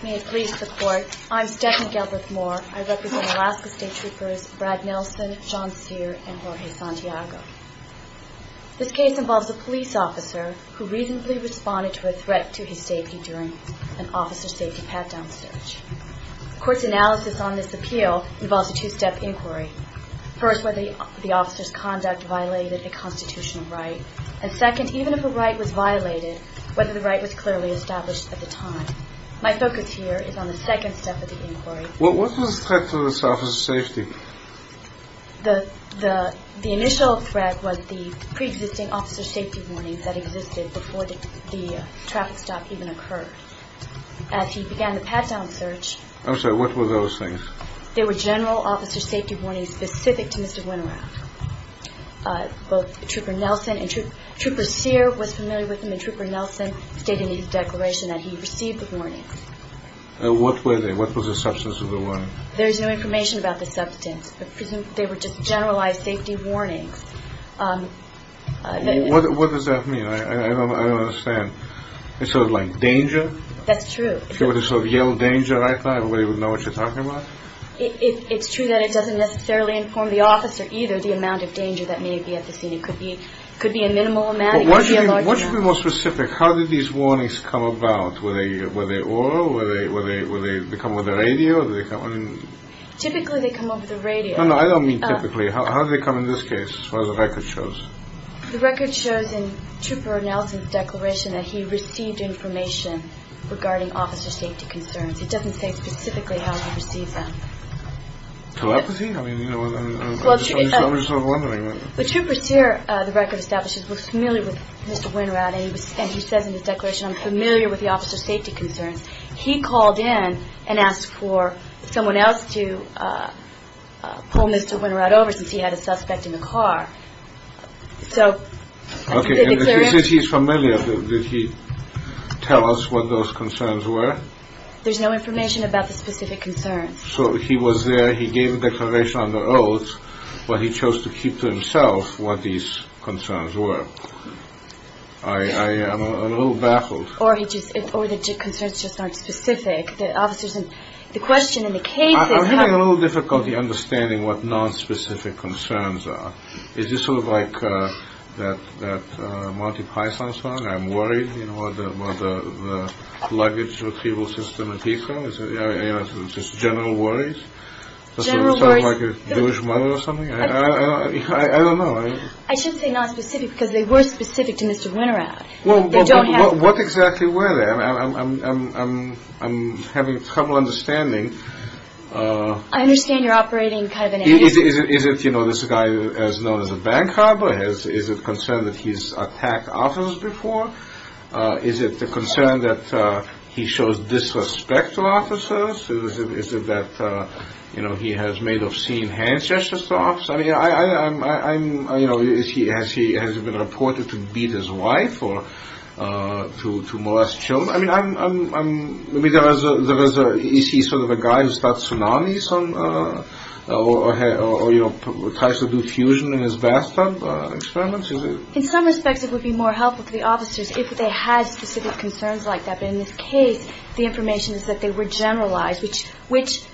May it please the court, I'm Stephanie Gelbert Moore. I represent Alaska State Troopers Brad Nelson, John Cyr, and Jorge Santiago. This case involves a police officer who reasonably responded to a threat to his safety during an officer safety pat-down search. The court's analysis on this appeal involves a two-step inquiry. First, whether the officer's conduct violated a constitutional right. And second, even if a right was violated, whether the right was clearly established at the time. My focus here is on the second step of the inquiry. What was the threat to this officer's safety? The initial threat was the pre-existing officer safety warnings that existed before the traffic stop even occurred. As he began the pat-down search... I'm sorry, what were those things? They were general officer safety warnings specific to Mr. Winterowd. Both Trooper Nelson and Trooper Cyr was familiar with them, and Trooper Nelson stated in his declaration that he received the warnings. What were they? What was the substance of the warnings? There's no information about the substance. They were just generalized safety warnings. What does that mean? I don't understand. It's sort of like danger? That's true. If you were to sort of yell danger right now, everybody would know what you're talking about? It's true that it doesn't necessarily inform the officer either the amount of danger that may be at the scene. It could be a minimal amount. Why don't you be more specific? How did these warnings come about? Were they oral? Did they come over the radio? Typically, they come over the radio. No, no, I don't mean typically. How did they come in this case? What does the record show? The record shows in Trooper Nelson's declaration that he received information regarding officer safety concerns. It doesn't say specifically how he received them. Telepathy? I mean, I'm just sort of wondering. The Trooper Cyr, the record establishes, was familiar with Mr. Winterowd, and he says in his declaration, I'm familiar with the officer safety concerns. He called in and asked for someone else to pull Mr. Winterowd over since he had a suspect in the car. Okay, and if he says he's familiar, did he tell us what those concerns were? There's no information about the specific concerns. So he was there, he gave a declaration on the oath, but he chose to keep to himself what these concerns were. I am a little baffled. Or the concerns just aren't specific. The question in the case is how- I'm having a little difficulty understanding what non-specific concerns are. Is this sort of like that Monty Python song, I'm worried, you know, where the luggage retrieval system appeals to them, just general worries? General worries- Does it sound like a douche mother or something? I don't know. I shouldn't say non-specific because they were specific to Mr. Winterowd. What exactly were they? I'm having trouble understanding. I understand you're operating kind of in a- Is it, you know, this guy as known as a bank robber? Is it concern that he's attacked officers before? Is it the concern that he shows disrespect to officers? Is it that, you know, he has made obscene hand gestures to officers? I mean, you know, has he been reported to beat his wife or to molest children? I mean, is he sort of a guy who starts tsunamis or, you know, tries to do fusion in his bathtub experiments? In some respects, it would be more helpful to the officers if they had specific concerns like that. But in this case, the information is that they were generalized, which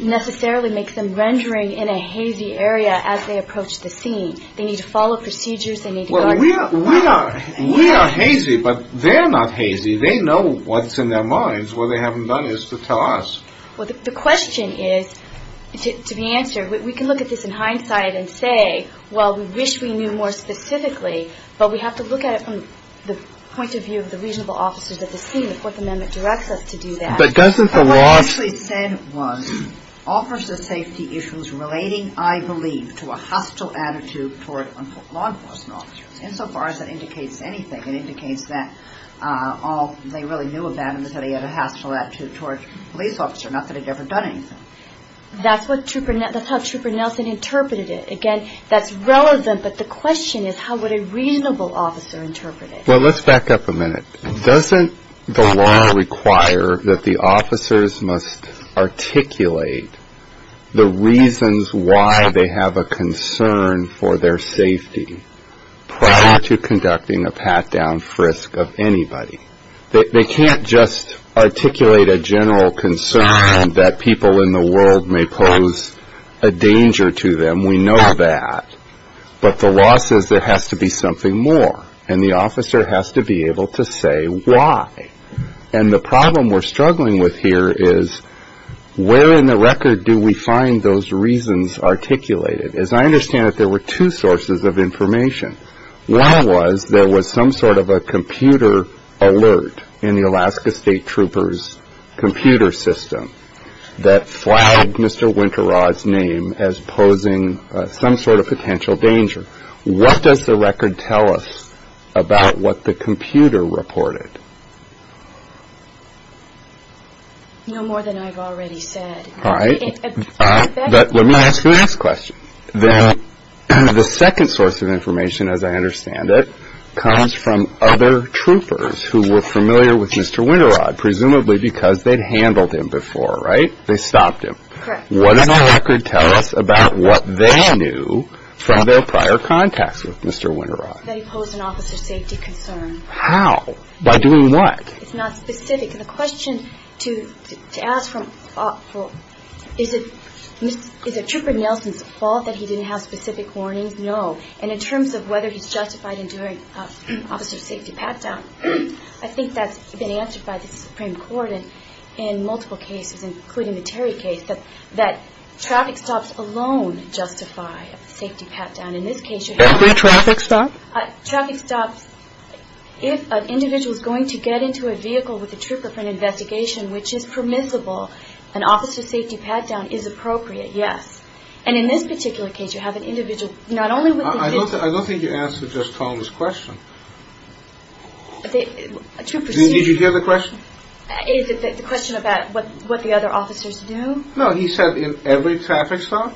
necessarily makes them rendering in a hazy area as they approach the scene. They need to follow procedures. Well, we are hazy, but they're not hazy. They know what's in their minds. What they haven't done is to tell us. Well, the question is, to be answered, we can look at this in hindsight and say, well, we wish we knew more specifically, but we have to look at it from the point of view of the reasonable officers at the scene. The Fourth Amendment directs us to do that. But doesn't the law – What it actually said was, offers the safety issues relating, I believe, to a hostile attitude toward law enforcement officers, insofar as that indicates anything. It indicates that all they really knew about him is that he had a hostile attitude toward police officers, not that he'd ever done anything. That's what Trooper – that's how Trooper Nelson interpreted it. Again, that's relevant, but the question is how would a reasonable officer interpret it? Well, let's back up a minute. Doesn't the law require that the officers must articulate the reasons why they have a concern for their safety prior to conducting a pat-down frisk of anybody? They can't just articulate a general concern that people in the world may pose a danger to them. We know that. But the law says there has to be something more, and the officer has to be able to say why. And the problem we're struggling with here is where in the record do we find those reasons articulated? As I understand it, there were two sources of information. One was there was some sort of a computer alert in the Alaska State Trooper's computer system that flagged Mr. Winterrod's name as posing some sort of potential danger. What does the record tell us about what the computer reported? No more than I've already said. All right. But let me ask you the next question. The second source of information, as I understand it, comes from other troopers who were familiar with Mr. Winterrod, presumably because they'd handled him before, right? They stopped him. Correct. What in the record tell us about what they knew from their prior contacts with Mr. Winterrod? That he posed an officer safety concern. How? By doing what? It's not specific. And the question to ask is, is it Trooper Nelson's fault that he didn't have specific warnings? No. And in terms of whether he's justified in doing an officer safety pat-down, I think that's been answered by the Supreme Court in multiple cases, including the Terry case, that traffic stops alone justify a safety pat-down. In this case, you have- Every traffic stop? Traffic stops. If an individual is going to get into a vehicle with a trooper for an investigation, which is permissible, an officer safety pat-down is appropriate, yes. And in this particular case, you have an individual not only with the vehicle- I don't think you answered just Tom's question. Did you hear the question? Is it the question about what the other officers knew? No, he said in every traffic stop.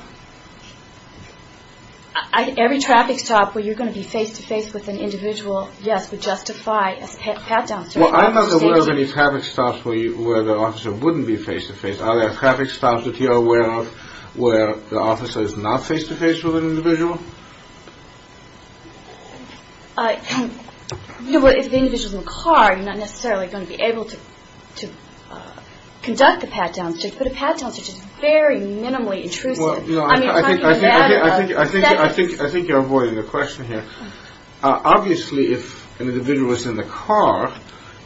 Every traffic stop where you're going to be face-to-face with an individual, yes, would justify a pat-down. Well, I'm not aware of any traffic stops where the officer wouldn't be face-to-face. Are there traffic stops that you're aware of where the officer is not face-to-face with an individual? You know, if the individual is in the car, you're not necessarily going to be able to conduct a pat-down search, but a pat-down search is very minimally intrusive. I think you're avoiding the question here. Obviously, if an individual is in the car,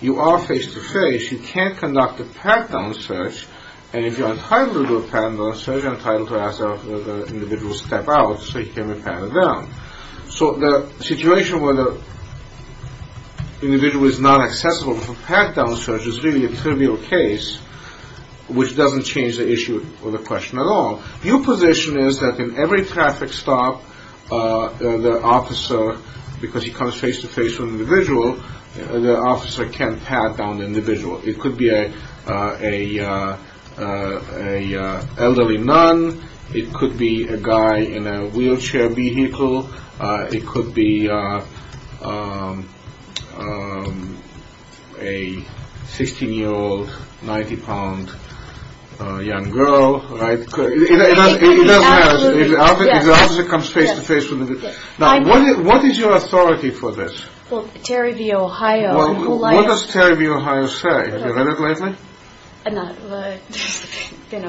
you are face-to-face. You can't conduct a pat-down search, and if you're entitled to do a pat-down search, you're entitled to ask the individual to step out so you can pat him down. So the situation where the individual is not accessible for a pat-down search is really a trivial case, which doesn't change the issue or the question at all. Your position is that in every traffic stop, the officer, because he comes face-to-face with an individual, the officer can't pat down the individual. It could be an elderly nun. It could be a guy in a wheelchair vehicle. It could be a 16-year-old, 90-pound young girl. It doesn't matter if the officer comes face-to-face with an individual. Now, what is your authority for this? Well, Terry v. Ohio. What does Terry v. Ohio say? Have you read it lately? No. It's been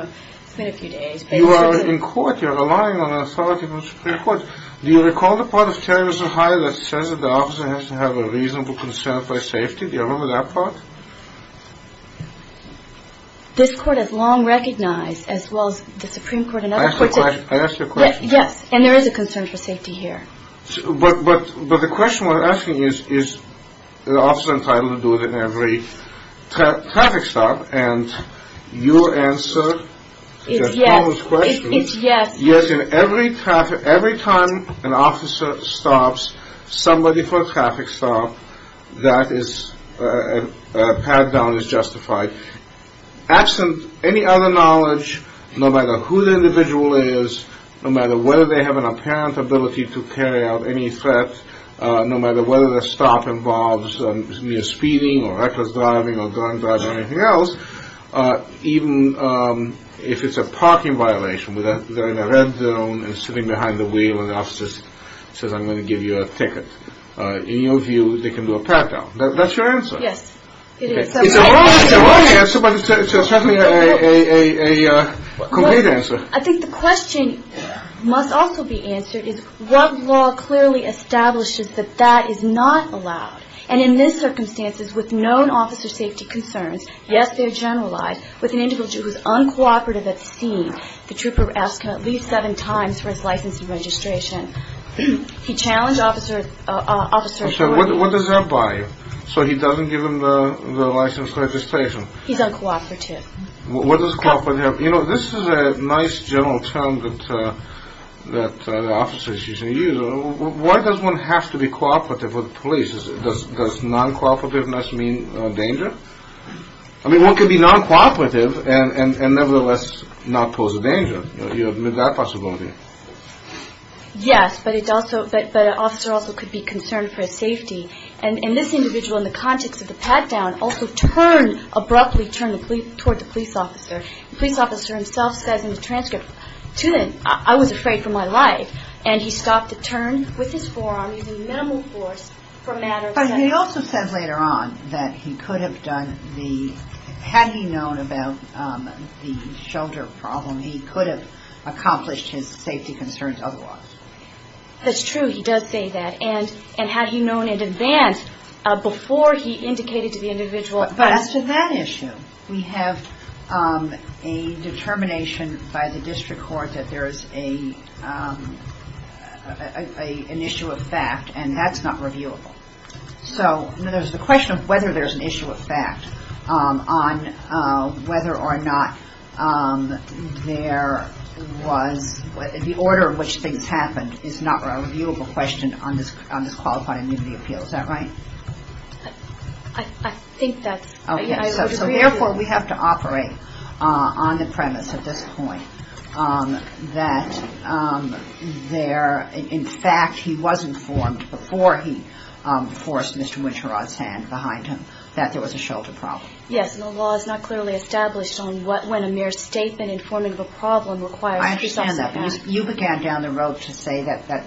a few days. You are in court. You're relying on authority from the Supreme Court. Do you recall the part of Terry v. Ohio that says that the officer has to have a reasonable concern for safety? Do you remember that part? I asked you a question. Yes. And there is a concern for safety here. But the question we're asking is, is the officer entitled to do it in every traffic stop? And your answer is a famous question. It's yes. Yes, and every time an officer stops somebody for a traffic stop, that pat-down is justified. Absent any other knowledge, no matter who the individual is, no matter whether they have an apparent ability to carry out any threat, no matter whether the stop involves speeding or reckless driving or drunk driving or anything else, even if it's a parking violation, they're in a red zone and sitting behind the wheel and the officer says, I'm going to give you a ticket. In your view, they can do a pat-down. That's your answer. Yes. It is. It's the right answer, but it's certainly a complete answer. I think the question must also be answered is, what law clearly establishes that that is not allowed? And in these circumstances, with known officer safety concerns, yes, they're generalized. With an individual who is uncooperative at the scene, the trooper asks him at least seven times for his license and registration. He challenged officers. What does that buy you? So he doesn't give him the license and registration. He's uncooperative. What does cooperative mean? You know, this is a nice general term that officers usually use. Why does one have to be cooperative with the police? Does non-cooperativeness mean danger? I mean, one can be non-cooperative and nevertheless not pose a danger. You admit that possibility. Yes, but an officer also could be concerned for his safety. And this individual, in the context of the pat-down, also abruptly turned toward the police officer. The police officer himself says in the transcript, I was afraid for my life. And he stopped the turn with his forearm using minimal force for a matter of seconds. But he also says later on that he could have done the – had he known about the shoulder problem, he could have accomplished his safety concerns otherwise. That's true. He does say that. And had he known in advance before he indicated to the individual. But as to that issue, we have a determination by the district court that there is an issue of fact, and that's not reviewable. So there's the question of whether there's an issue of fact on whether or not there was – the order in which things happened is not a reviewable question on this qualified immunity appeal. Is that right? I think that's – Okay. So therefore, we have to operate on the premise at this point that there – in fact, he was informed before he forced Mr. Winterod's hand behind him that there was a shoulder problem. Yes, and the law is not clearly established on what – when a mere statement informing of a problem requires – I understand that. You began down the road to say that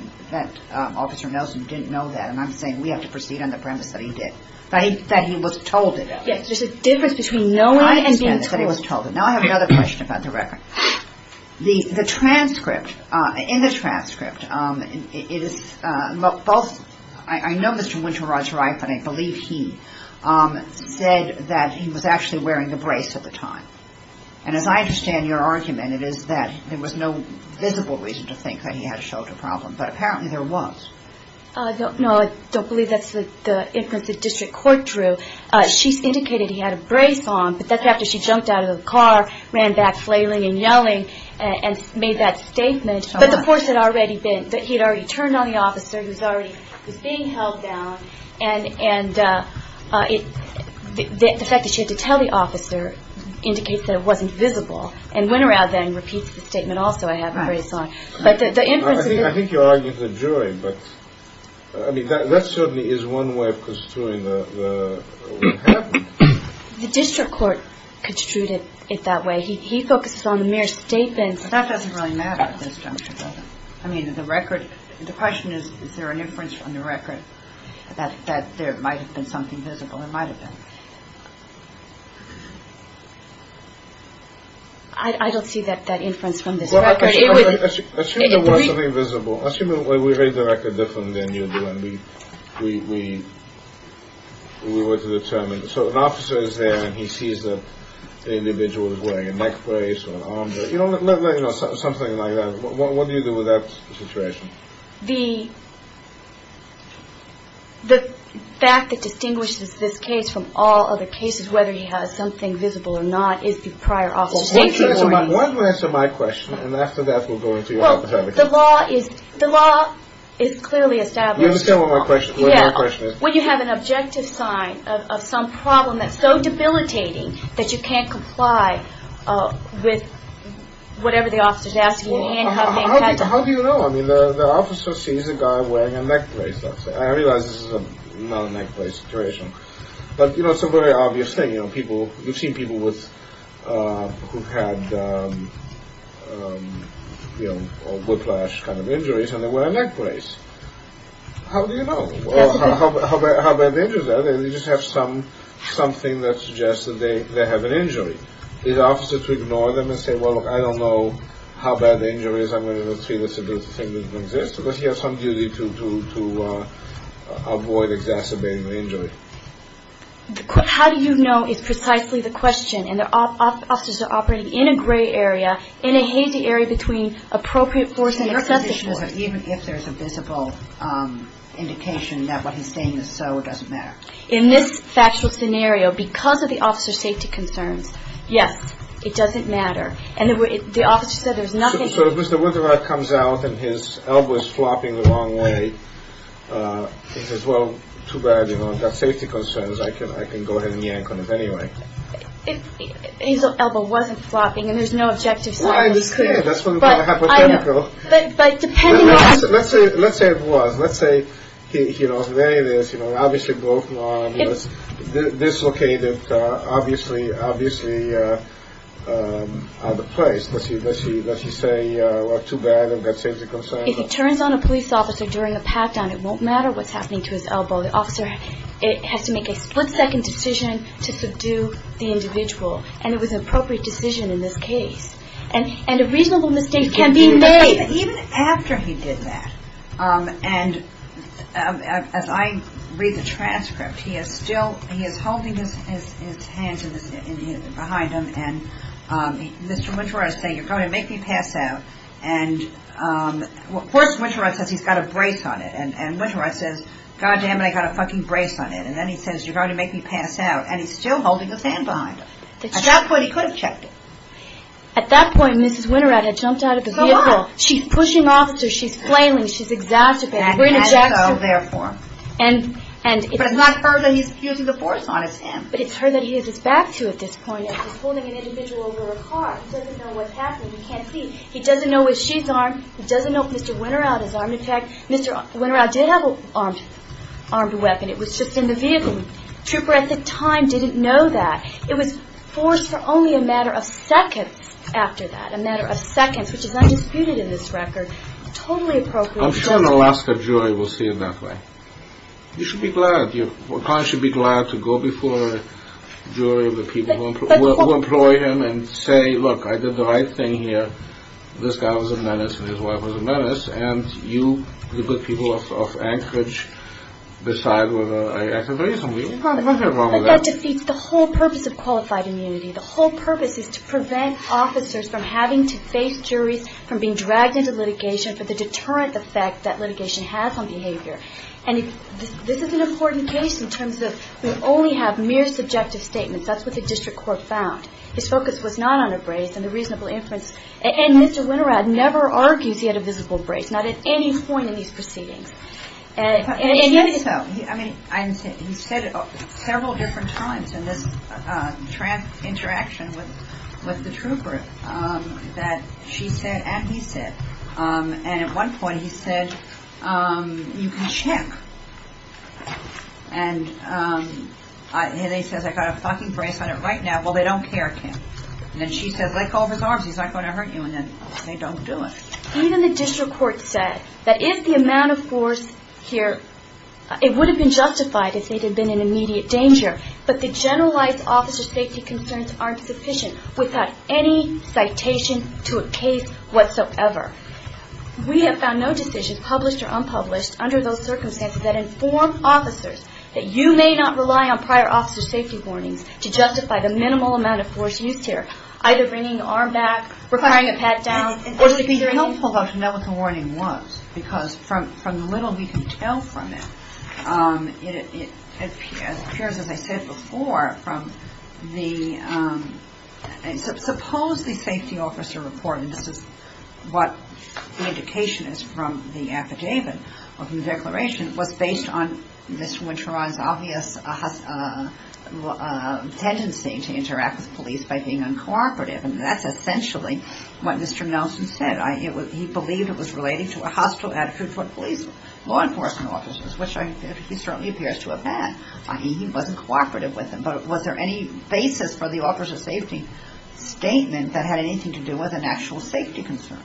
Officer Nelson didn't know that, and I'm saying we have to proceed on the premise that he did, that he was told it. Yes, there's a difference between knowing and being told. I understand that, that he was told it. Now I have another question about the record. The transcript – in the transcript, it is both – I know Mr. Winterod's right, but I believe he said that he was actually wearing the brace at the time. And as I understand your argument, it is that there was no visible reason to think that he had a shoulder problem, but apparently there was. No, I don't believe that's the inference the district court drew. She's indicated he had a brace on, but that's after she jumped out of the car, ran back flailing and yelling, and made that statement. But the courts had already been – that he had already turned on the officer, he was already – was being held down, and it – the fact that she had to tell the officer indicates that it wasn't visible. And Winterod then repeats the statement, also, I have a brace on. But the inference – I think you're arguing the jury, but – I mean, that certainly is one way of construing what happened. The district court construed it that way. He focuses on the mere statement. But that doesn't really matter at this juncture, does it? I mean, the record – the question is, is there an inference from the record that there might have been something visible? There might have been. I don't see that inference from this record. Assume there was something visible. Assume that we read the record differently than you do, and we were to determine – so an officer is there, and he sees that the individual is wearing a neck brace or an arm brace. You know, something like that. What do you do with that situation? I mean, the fact that distinguishes this case from all other cases, whether he has something visible or not, is the prior officer. Why don't you answer my question? And after that, we'll go into your hypothetical. Well, the law is clearly established. You understand what my question is? Yeah. When you have an objective sign of some problem that's so debilitating that you can't comply with whatever the officer is asking, how do you know? I mean, the officer sees a guy wearing a neck brace, let's say. I realize this is not a neck brace situation, but it's a very obvious thing. You've seen people who've had whiplash kind of injuries, and they wear a neck brace. How do you know? How bad the injuries are? They just have something that suggests that they have an injury. Is the officer to ignore them and say, well, look, I don't know how bad the injury is. I'm going to treat it as if it didn't exist, because he has some duty to avoid exacerbating the injury. How do you know is precisely the question, and the officers are operating in a gray area, in a hazy area between appropriate force and excessive force. Even if there's a visible indication that what he's saying is so, it doesn't matter. In this factual scenario, because of the officer's safety concerns, yes, it doesn't matter. And the officer said there's nothing. So if Mr. Winterrod comes out and his elbow is flopping the wrong way, he says, well, too bad, you know, I've got safety concerns. I can go ahead and yank on it anyway. His elbow wasn't flopping, and there's no objective science. Well, I understand. That's hypothetical. But depending on. Let's say it was. Let's say, you know, there it is. You know, obviously, this located. Obviously, obviously, the place. Let's see. Let's see. Let's just say, well, too bad. I've got safety concerns. If he turns on a police officer during a pat down, it won't matter what's happening to his elbow. The officer has to make a split second decision to subdue the individual. And it was an appropriate decision in this case. And and a reasonable mistake can be made even after he did that. And as I read the transcript, he is still he is holding his hands behind him. And Mr. Wintouras say, you're going to make me pass out. And of course, Wintouras says he's got a brace on it. And Wintouras says, God damn it, I got a fucking brace on it. And then he says, you're going to make me pass out. And he's still holding his hand behind him. At that point, he could have checked it. At that point, Mrs. Wintouras had jumped out of the vehicle. She's pushing officers. She's flailing. She's exasperated. And so therefore. But it's not her that he's using the force on his hand. But it's her that he has his back to at this point. He's holding an individual over a car. He doesn't know what's happening. He can't see. He doesn't know where she's armed. He doesn't know if Mr. Wintouras is armed. In fact, Mr. Wintouras did have an armed weapon. It was just in the vehicle. Trooper at the time didn't know that. It was forced for only a matter of seconds after that. A matter of seconds, which is undisputed in this record. Totally appropriate. I'm sure an Alaska jury will see it that way. You should be glad. Your client should be glad to go before a jury of the people who employ him and say, Look, I did the right thing here. This guy was a menace and his wife was a menace. And you, the good people of Anchorage, decide whether I acted reasonably. I don't have a problem with that. But that defeats the whole purpose of qualified immunity. The whole purpose is to prevent officers from having to face juries, from being dragged into litigation, for the deterrent effect that litigation has on behavior. And this is an important case in terms of we only have mere subjective statements. That's what the district court found. His focus was not on a brace and the reasonable inference. And Mr. Wintouras never argues he had a visible brace, not at any point in these proceedings. He did so. He said it several different times in this interaction with the trooper that she said and he said. And at one point he said, you can check. And he says, I got a fucking brace on it right now. Well, they don't care, Kim. And then she says, let go of his arms. He's not going to hurt you. And then they don't do it. Even the district court said that if the amount of force here, it would have been justified if it had been an immediate danger. But the generalized officer safety concerns aren't sufficient without any citation to a case whatsoever. We have found no decisions, published or unpublished, under those circumstances that inform officers that you may not rely on prior officer safety warnings to justify the minimal amount of force used here. Either bringing the arm back, requiring a pat down. Or to be helpful. That's not what the warning was. Because from the little we can tell from it, it appears, as I said before, from the, suppose the safety officer report, and this is what the indication is from the affidavit of the declaration, was based on Mr. Winteron's obvious tendency to interact with police by being uncooperative. And that's essentially what Mr. Nelson said. He believed it was related to a hostile attitude toward police law enforcement officers, which he certainly appears to have had. He wasn't cooperative with them. But was there any basis for the officer safety statement that had anything to do with an actual safety concern,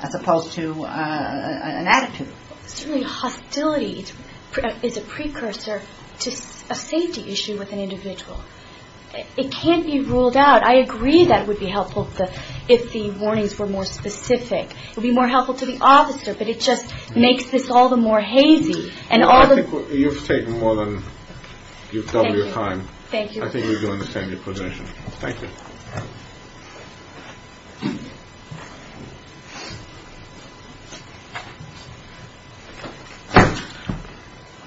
as opposed to an attitude? Certainly hostility is a precursor to a safety issue with an individual. It can't be ruled out. I agree that it would be helpful if the warnings were more specific. It would be more helpful to the officer. But it just makes this all the more hazy. I think you've taken more than double your time. Thank you. I think we can understand your position. Thank you.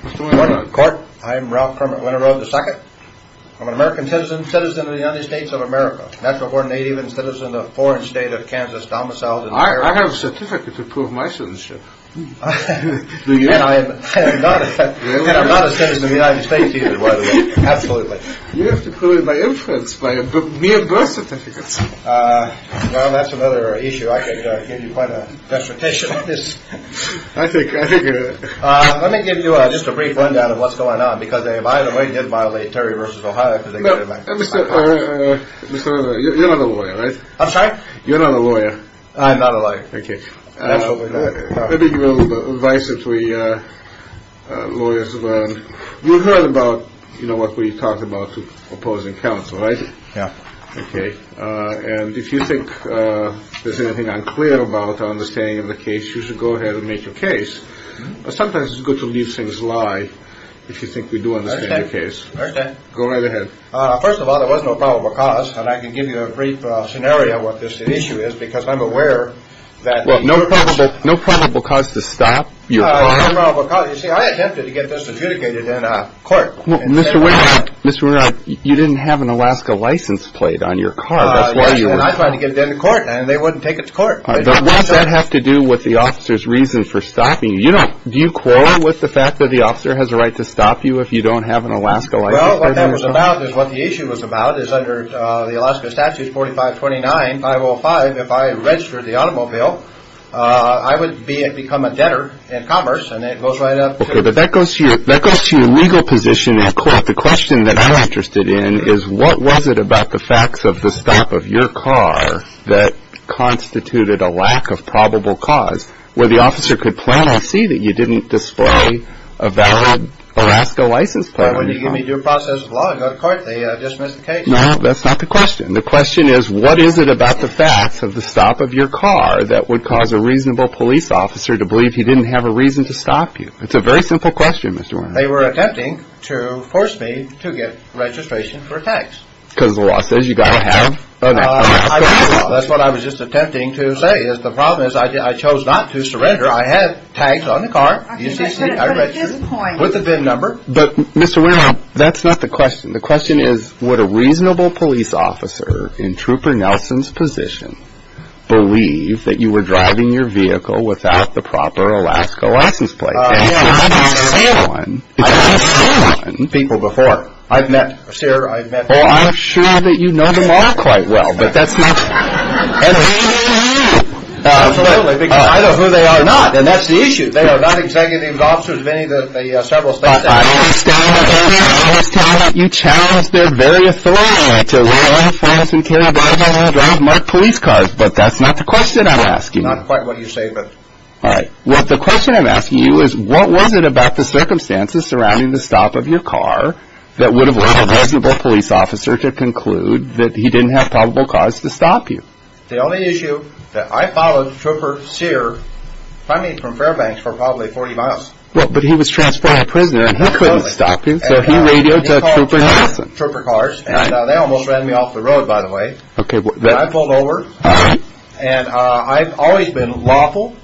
Mr. Winteron. Court, I'm Ralph Kermit Winteron II. I'm an American citizen, citizen of the United States of America. Natural born native and citizen of the foreign state of Kansas, domiciled in New York. I have a certificate to prove my citizenship. And I'm not a citizen of the United States either, by the way. Absolutely. You have to prove it by inference, by mere birth certificates. Well, that's another issue. I could give you quite a dissertation on this. I think you're right. Let me give you just a brief rundown of what's going on. Because if I, in a way, did violate Terry v. Ohio because they got in my car. Mr. Winteron, you're not a lawyer, right? I'm sorry? You're not a lawyer. I'm not a lawyer. Thank you. Maybe you have a little advice that we lawyers learn. You heard about, you know, what we talked about to opposing counsel, right? Yeah. Okay. And if you think there's anything unclear about our understanding of the case, you should go ahead and make your case. But sometimes it's good to leave things lie if you think we do understand your case. I understand. Go right ahead. First of all, there was no probable cause. And I can give you a brief scenario of what this issue is because I'm aware that. Well, no probable cause to stop your crime. No probable cause. Well, you see, I attempted to get this adjudicated in a court. Mr. Winteron, you didn't have an Alaska license plate on your car. That's why you were. I tried to get it in the court, and they wouldn't take it to court. Does that have to do with the officer's reason for stopping you? Do you quote with the fact that the officer has a right to stop you if you don't have an Alaska license plate? Well, what that was about is what the issue was about is under the Alaska Statutes 4529, 505, if I registered the automobile, I would become a debtor in commerce, and it goes right up to. But that goes to your legal position in court. The question that I'm interested in is what was it about the facts of the stop of your car that constituted a lack of probable cause, where the officer could plainly see that you didn't display a valid Alaska license plate on your car? Well, when you give me due process of law, I go to court. They dismiss the case. No, that's not the question. The question is what is it about the facts of the stop of your car that would cause a reasonable police officer to believe he didn't have a reason to stop you? It's a very simple question, Mr. Wehner. They were attempting to force me to get registration for tax. Because the law says you've got to have an Alaska license plate. That's what I was just attempting to say is the problem is I chose not to surrender. I had tax on the car. I registered with the VIN number. But, Mr. Wehner, that's not the question. The question is would a reasonable police officer in Trooper Nelson's position believe that you were driving your vehicle without the proper Alaska license plate? I've met everyone. I've met everyone. People before. I've met, sir, I've met. Well, I'm sure that you know them all quite well, but that's not. Absolutely, because I know who they are not, and that's the issue. They are not executive officers of any of the several states. I understand that you challenged their very authority to allow friends and caregivers to drive mugged police cars, but that's not the question I'm asking. Not quite what you say, but. All right. Well, the question I'm asking you is what was it about the circumstances surrounding the stop of your car that would have led a reasonable police officer to conclude that he didn't have probable cause to stop you? The only issue that I followed Trooper Cyr from Fairbanks for probably 40 miles. Well, but he was transferring a prisoner, and he couldn't stop him, so he radioed to Trooper Nelson. Trooper cars, and they almost ran me off the road, by the way. I pulled over, and I've always been lawful,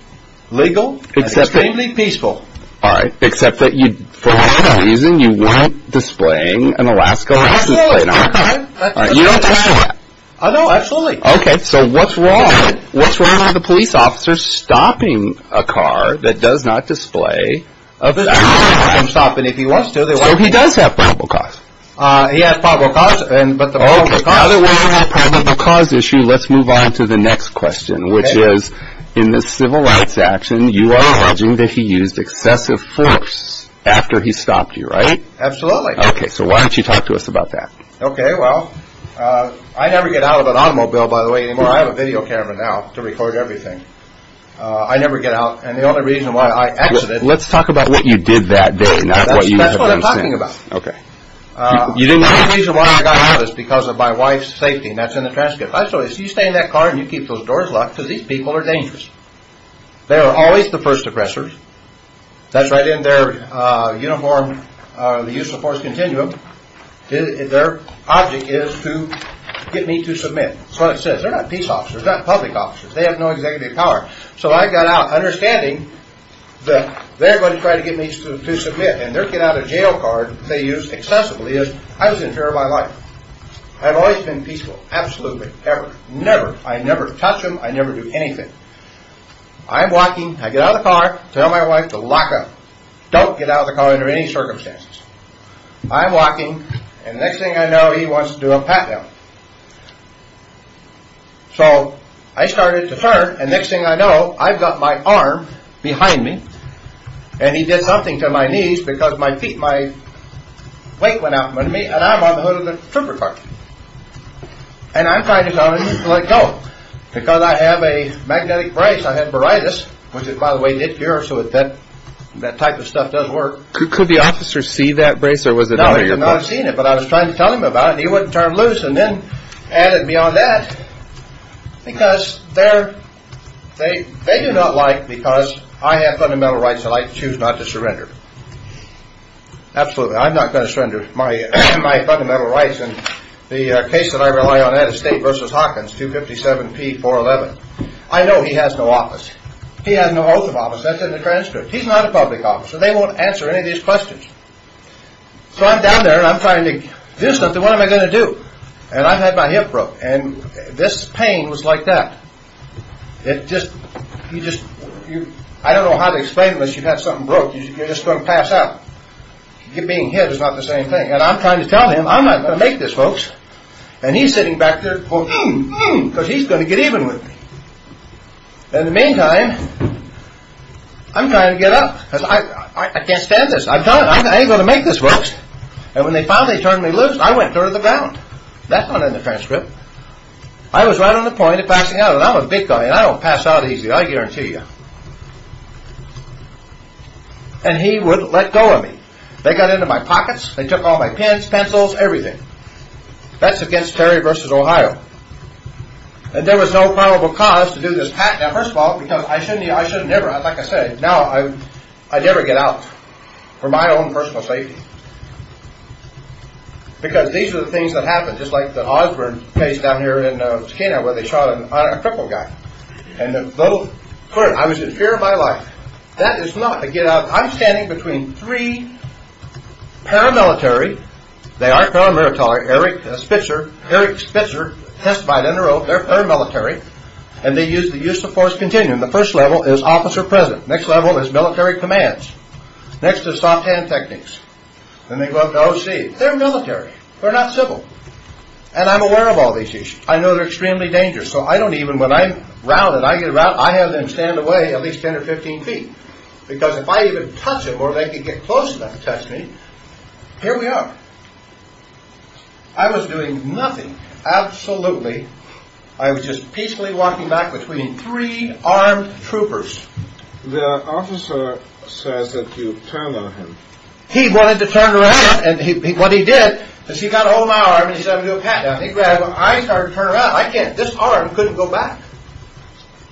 legal, and extremely peaceful. All right, except that for whatever reason, you weren't displaying an Alaska license plate on the car. Absolutely. You don't have that. No, absolutely. Okay, so what's wrong? What's wrong with a police officer stopping a car that does not display a license plate? He can stop it if he wants to. So he does have probable cause? He has probable cause, but the probable cause. Okay, now that we have the probable cause issue, let's move on to the next question, which is, in this civil rights action, you are alleging that he used excessive force after he stopped you, right? Absolutely. Okay, so why don't you talk to us about that? Okay, well, I never get out of an automobile, by the way, anymore. I have a video camera now to record everything. I never get out, and the only reason why I accidentally… Let's talk about what you did that day, not what you have done since. That's what I'm talking about. Okay. The only reason why I got out is because of my wife's safety, and that's in the transcript. So you stay in that car, and you keep those doors locked, because these people are dangerous. They are always the first oppressors. That's right in their uniform, the use of force continuum. Their object is to get me to submit. That's what it says. They're not peace officers. They're not public officers. They have no executive power. So I got out, understanding that they're going to try to get me to submit, and their get-out-of-jail card they use excessively is, I was in fear of my life. I've always been peaceful. Absolutely. Ever. Never. I never touch them. I never do anything. I'm walking. I get out of the car. Tell my wife to lock up. Don't get out of the car under any circumstances. I'm walking, and next thing I know, he wants to do a pat-down. So I started to turn, and next thing I know, I've got my arm behind me, and he did something to my knees because my feet, my weight went out in front of me, and I'm on the hood of the trooper car. And I'm trying to tell him to let go because I have a magnetic brace. I have baritis, which, by the way, did cure, so that type of stuff does work. Could the officer see that brace, or was it out of your pocket? No, he did not see it, but I was trying to tell him about it, and he wouldn't turn loose and then added me on that because they do not like because I have fundamental rights and I choose not to surrender. Absolutely. I'm not going to surrender my fundamental rights. In the case that I rely on, that is State v. Hawkins, 257P411. I know he has no office. He has no oath of office. That's in the transcript. He's not a public officer. They won't answer any of these questions. So I'm down there, and I'm trying to do something. What am I going to do? And I've had my hip broke, and this pain was like that. It just, you just, I don't know how to explain this. You've had something broke. You're just going to pass out. Being hit is not the same thing, and I'm trying to tell him. I'm not going to make this, folks, and he's sitting back there, because he's going to get even with me. In the meantime, I'm trying to get up because I can't stand this. I've done it. I ain't going to make this, folks, and when they finally turned me loose, I went through the ground. That's not in the transcript. I was right on the point of passing out, and I'm a big guy, and I don't pass out easy. I guarantee you, and he would let go of me. They got into my pockets. They took all my pens, pencils, everything. That's against Terry versus Ohio, and there was no probable cause to do this. Now, first of all, because I shouldn't have. Like I said, now I'd never get out for my own personal safety, because these are the things that happen, just like the Osborne case down here in Takena, where they shot a cripple guy, and I was in fear of my life. That is not to get out. I'm standing between three paramilitary. They are paramilitary. Eric Spitzer testified in a row. They're paramilitary, and they use the use of force continuum. The first level is officer present. Next level is military commands. Next is soft hand techniques. Then they go up to OC. They're military. They're not civil, and I'm aware of all these issues. I know they're extremely dangerous, so I don't even, when I'm rounded, I get around, I have them stand away at least 10 or 15 feet, because if I even touch them, or they can get close enough to touch me, here we are. I was doing nothing, absolutely. I was just peacefully walking back between three armed troopers. The officer says that you turned on him. He wanted to turn around, and what he did is he got ahold of my arm, and he said, I'm going to pat you. He grabbed, and I started to turn around. I can't. This arm couldn't go back.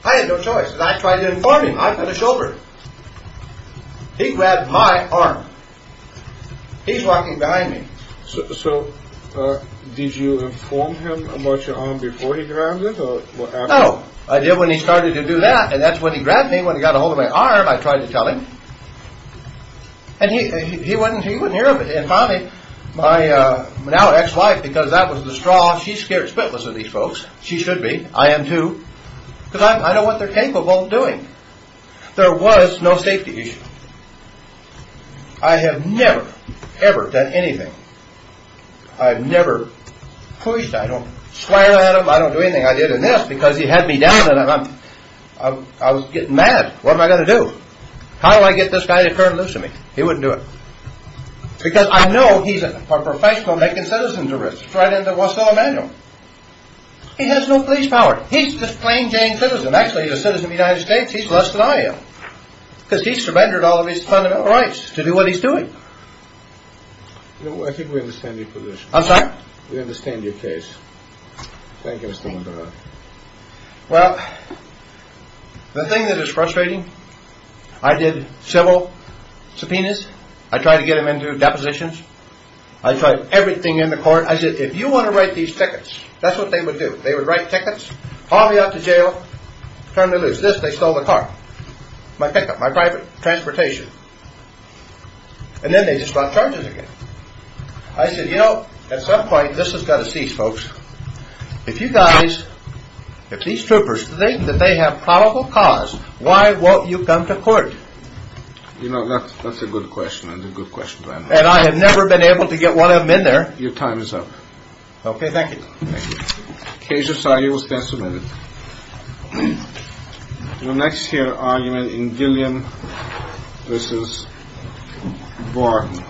I had no choice, and I tried to inform him. I've got a shoulder. He grabbed my arm. He's walking behind me. So did you inform him about your arm before he grabbed it, or what happened? Oh, I did when he started to do that, and that's when he grabbed me, when he got ahold of my arm, I tried to tell him. And he wouldn't hear of it, and finally, my now ex-wife, because that was the straw, she's scared spitless of these folks. She should be. I am too, because I know what they're capable of doing. There was no safety issue. I have never, ever done anything. I've never pushed. I don't swear at him. I don't do anything. I did this because he had me down, and I was getting mad. What am I going to do? How do I get this guy to turn loose on me? He wouldn't do it, because I know he's a professional making citizens at risk. It's right under Russell Emanuel. He has no police power. He's just plain-Jane citizen. Actually, he's a citizen of the United States. He's less than I am, because he surrendered all of his fundamental rights to do what he's doing. I think we understand your position. I'm sorry? We understand your case. Thank you, Mr. Wendell. Well, the thing that is frustrating, I did several subpoenas. I tried to get him into depositions. I tried everything in the court. I said, if you want to write these tickets, that's what they would do. They would write tickets, haul me out to jail, turn me loose. This, they stole the car, my pickup, my private transportation. And then they just brought charges again. I said, you know, at some point, this has got to cease, folks. If you guys, if these troopers think that they have probable cause, why won't you come to court? You know, that's a good question, and a good question to end on. And I have never been able to get one of them in there. Your time is up. Okay. Thank you. Case decided. You will stand submitted. The next here argument in Gillian v. Barton. Thank you.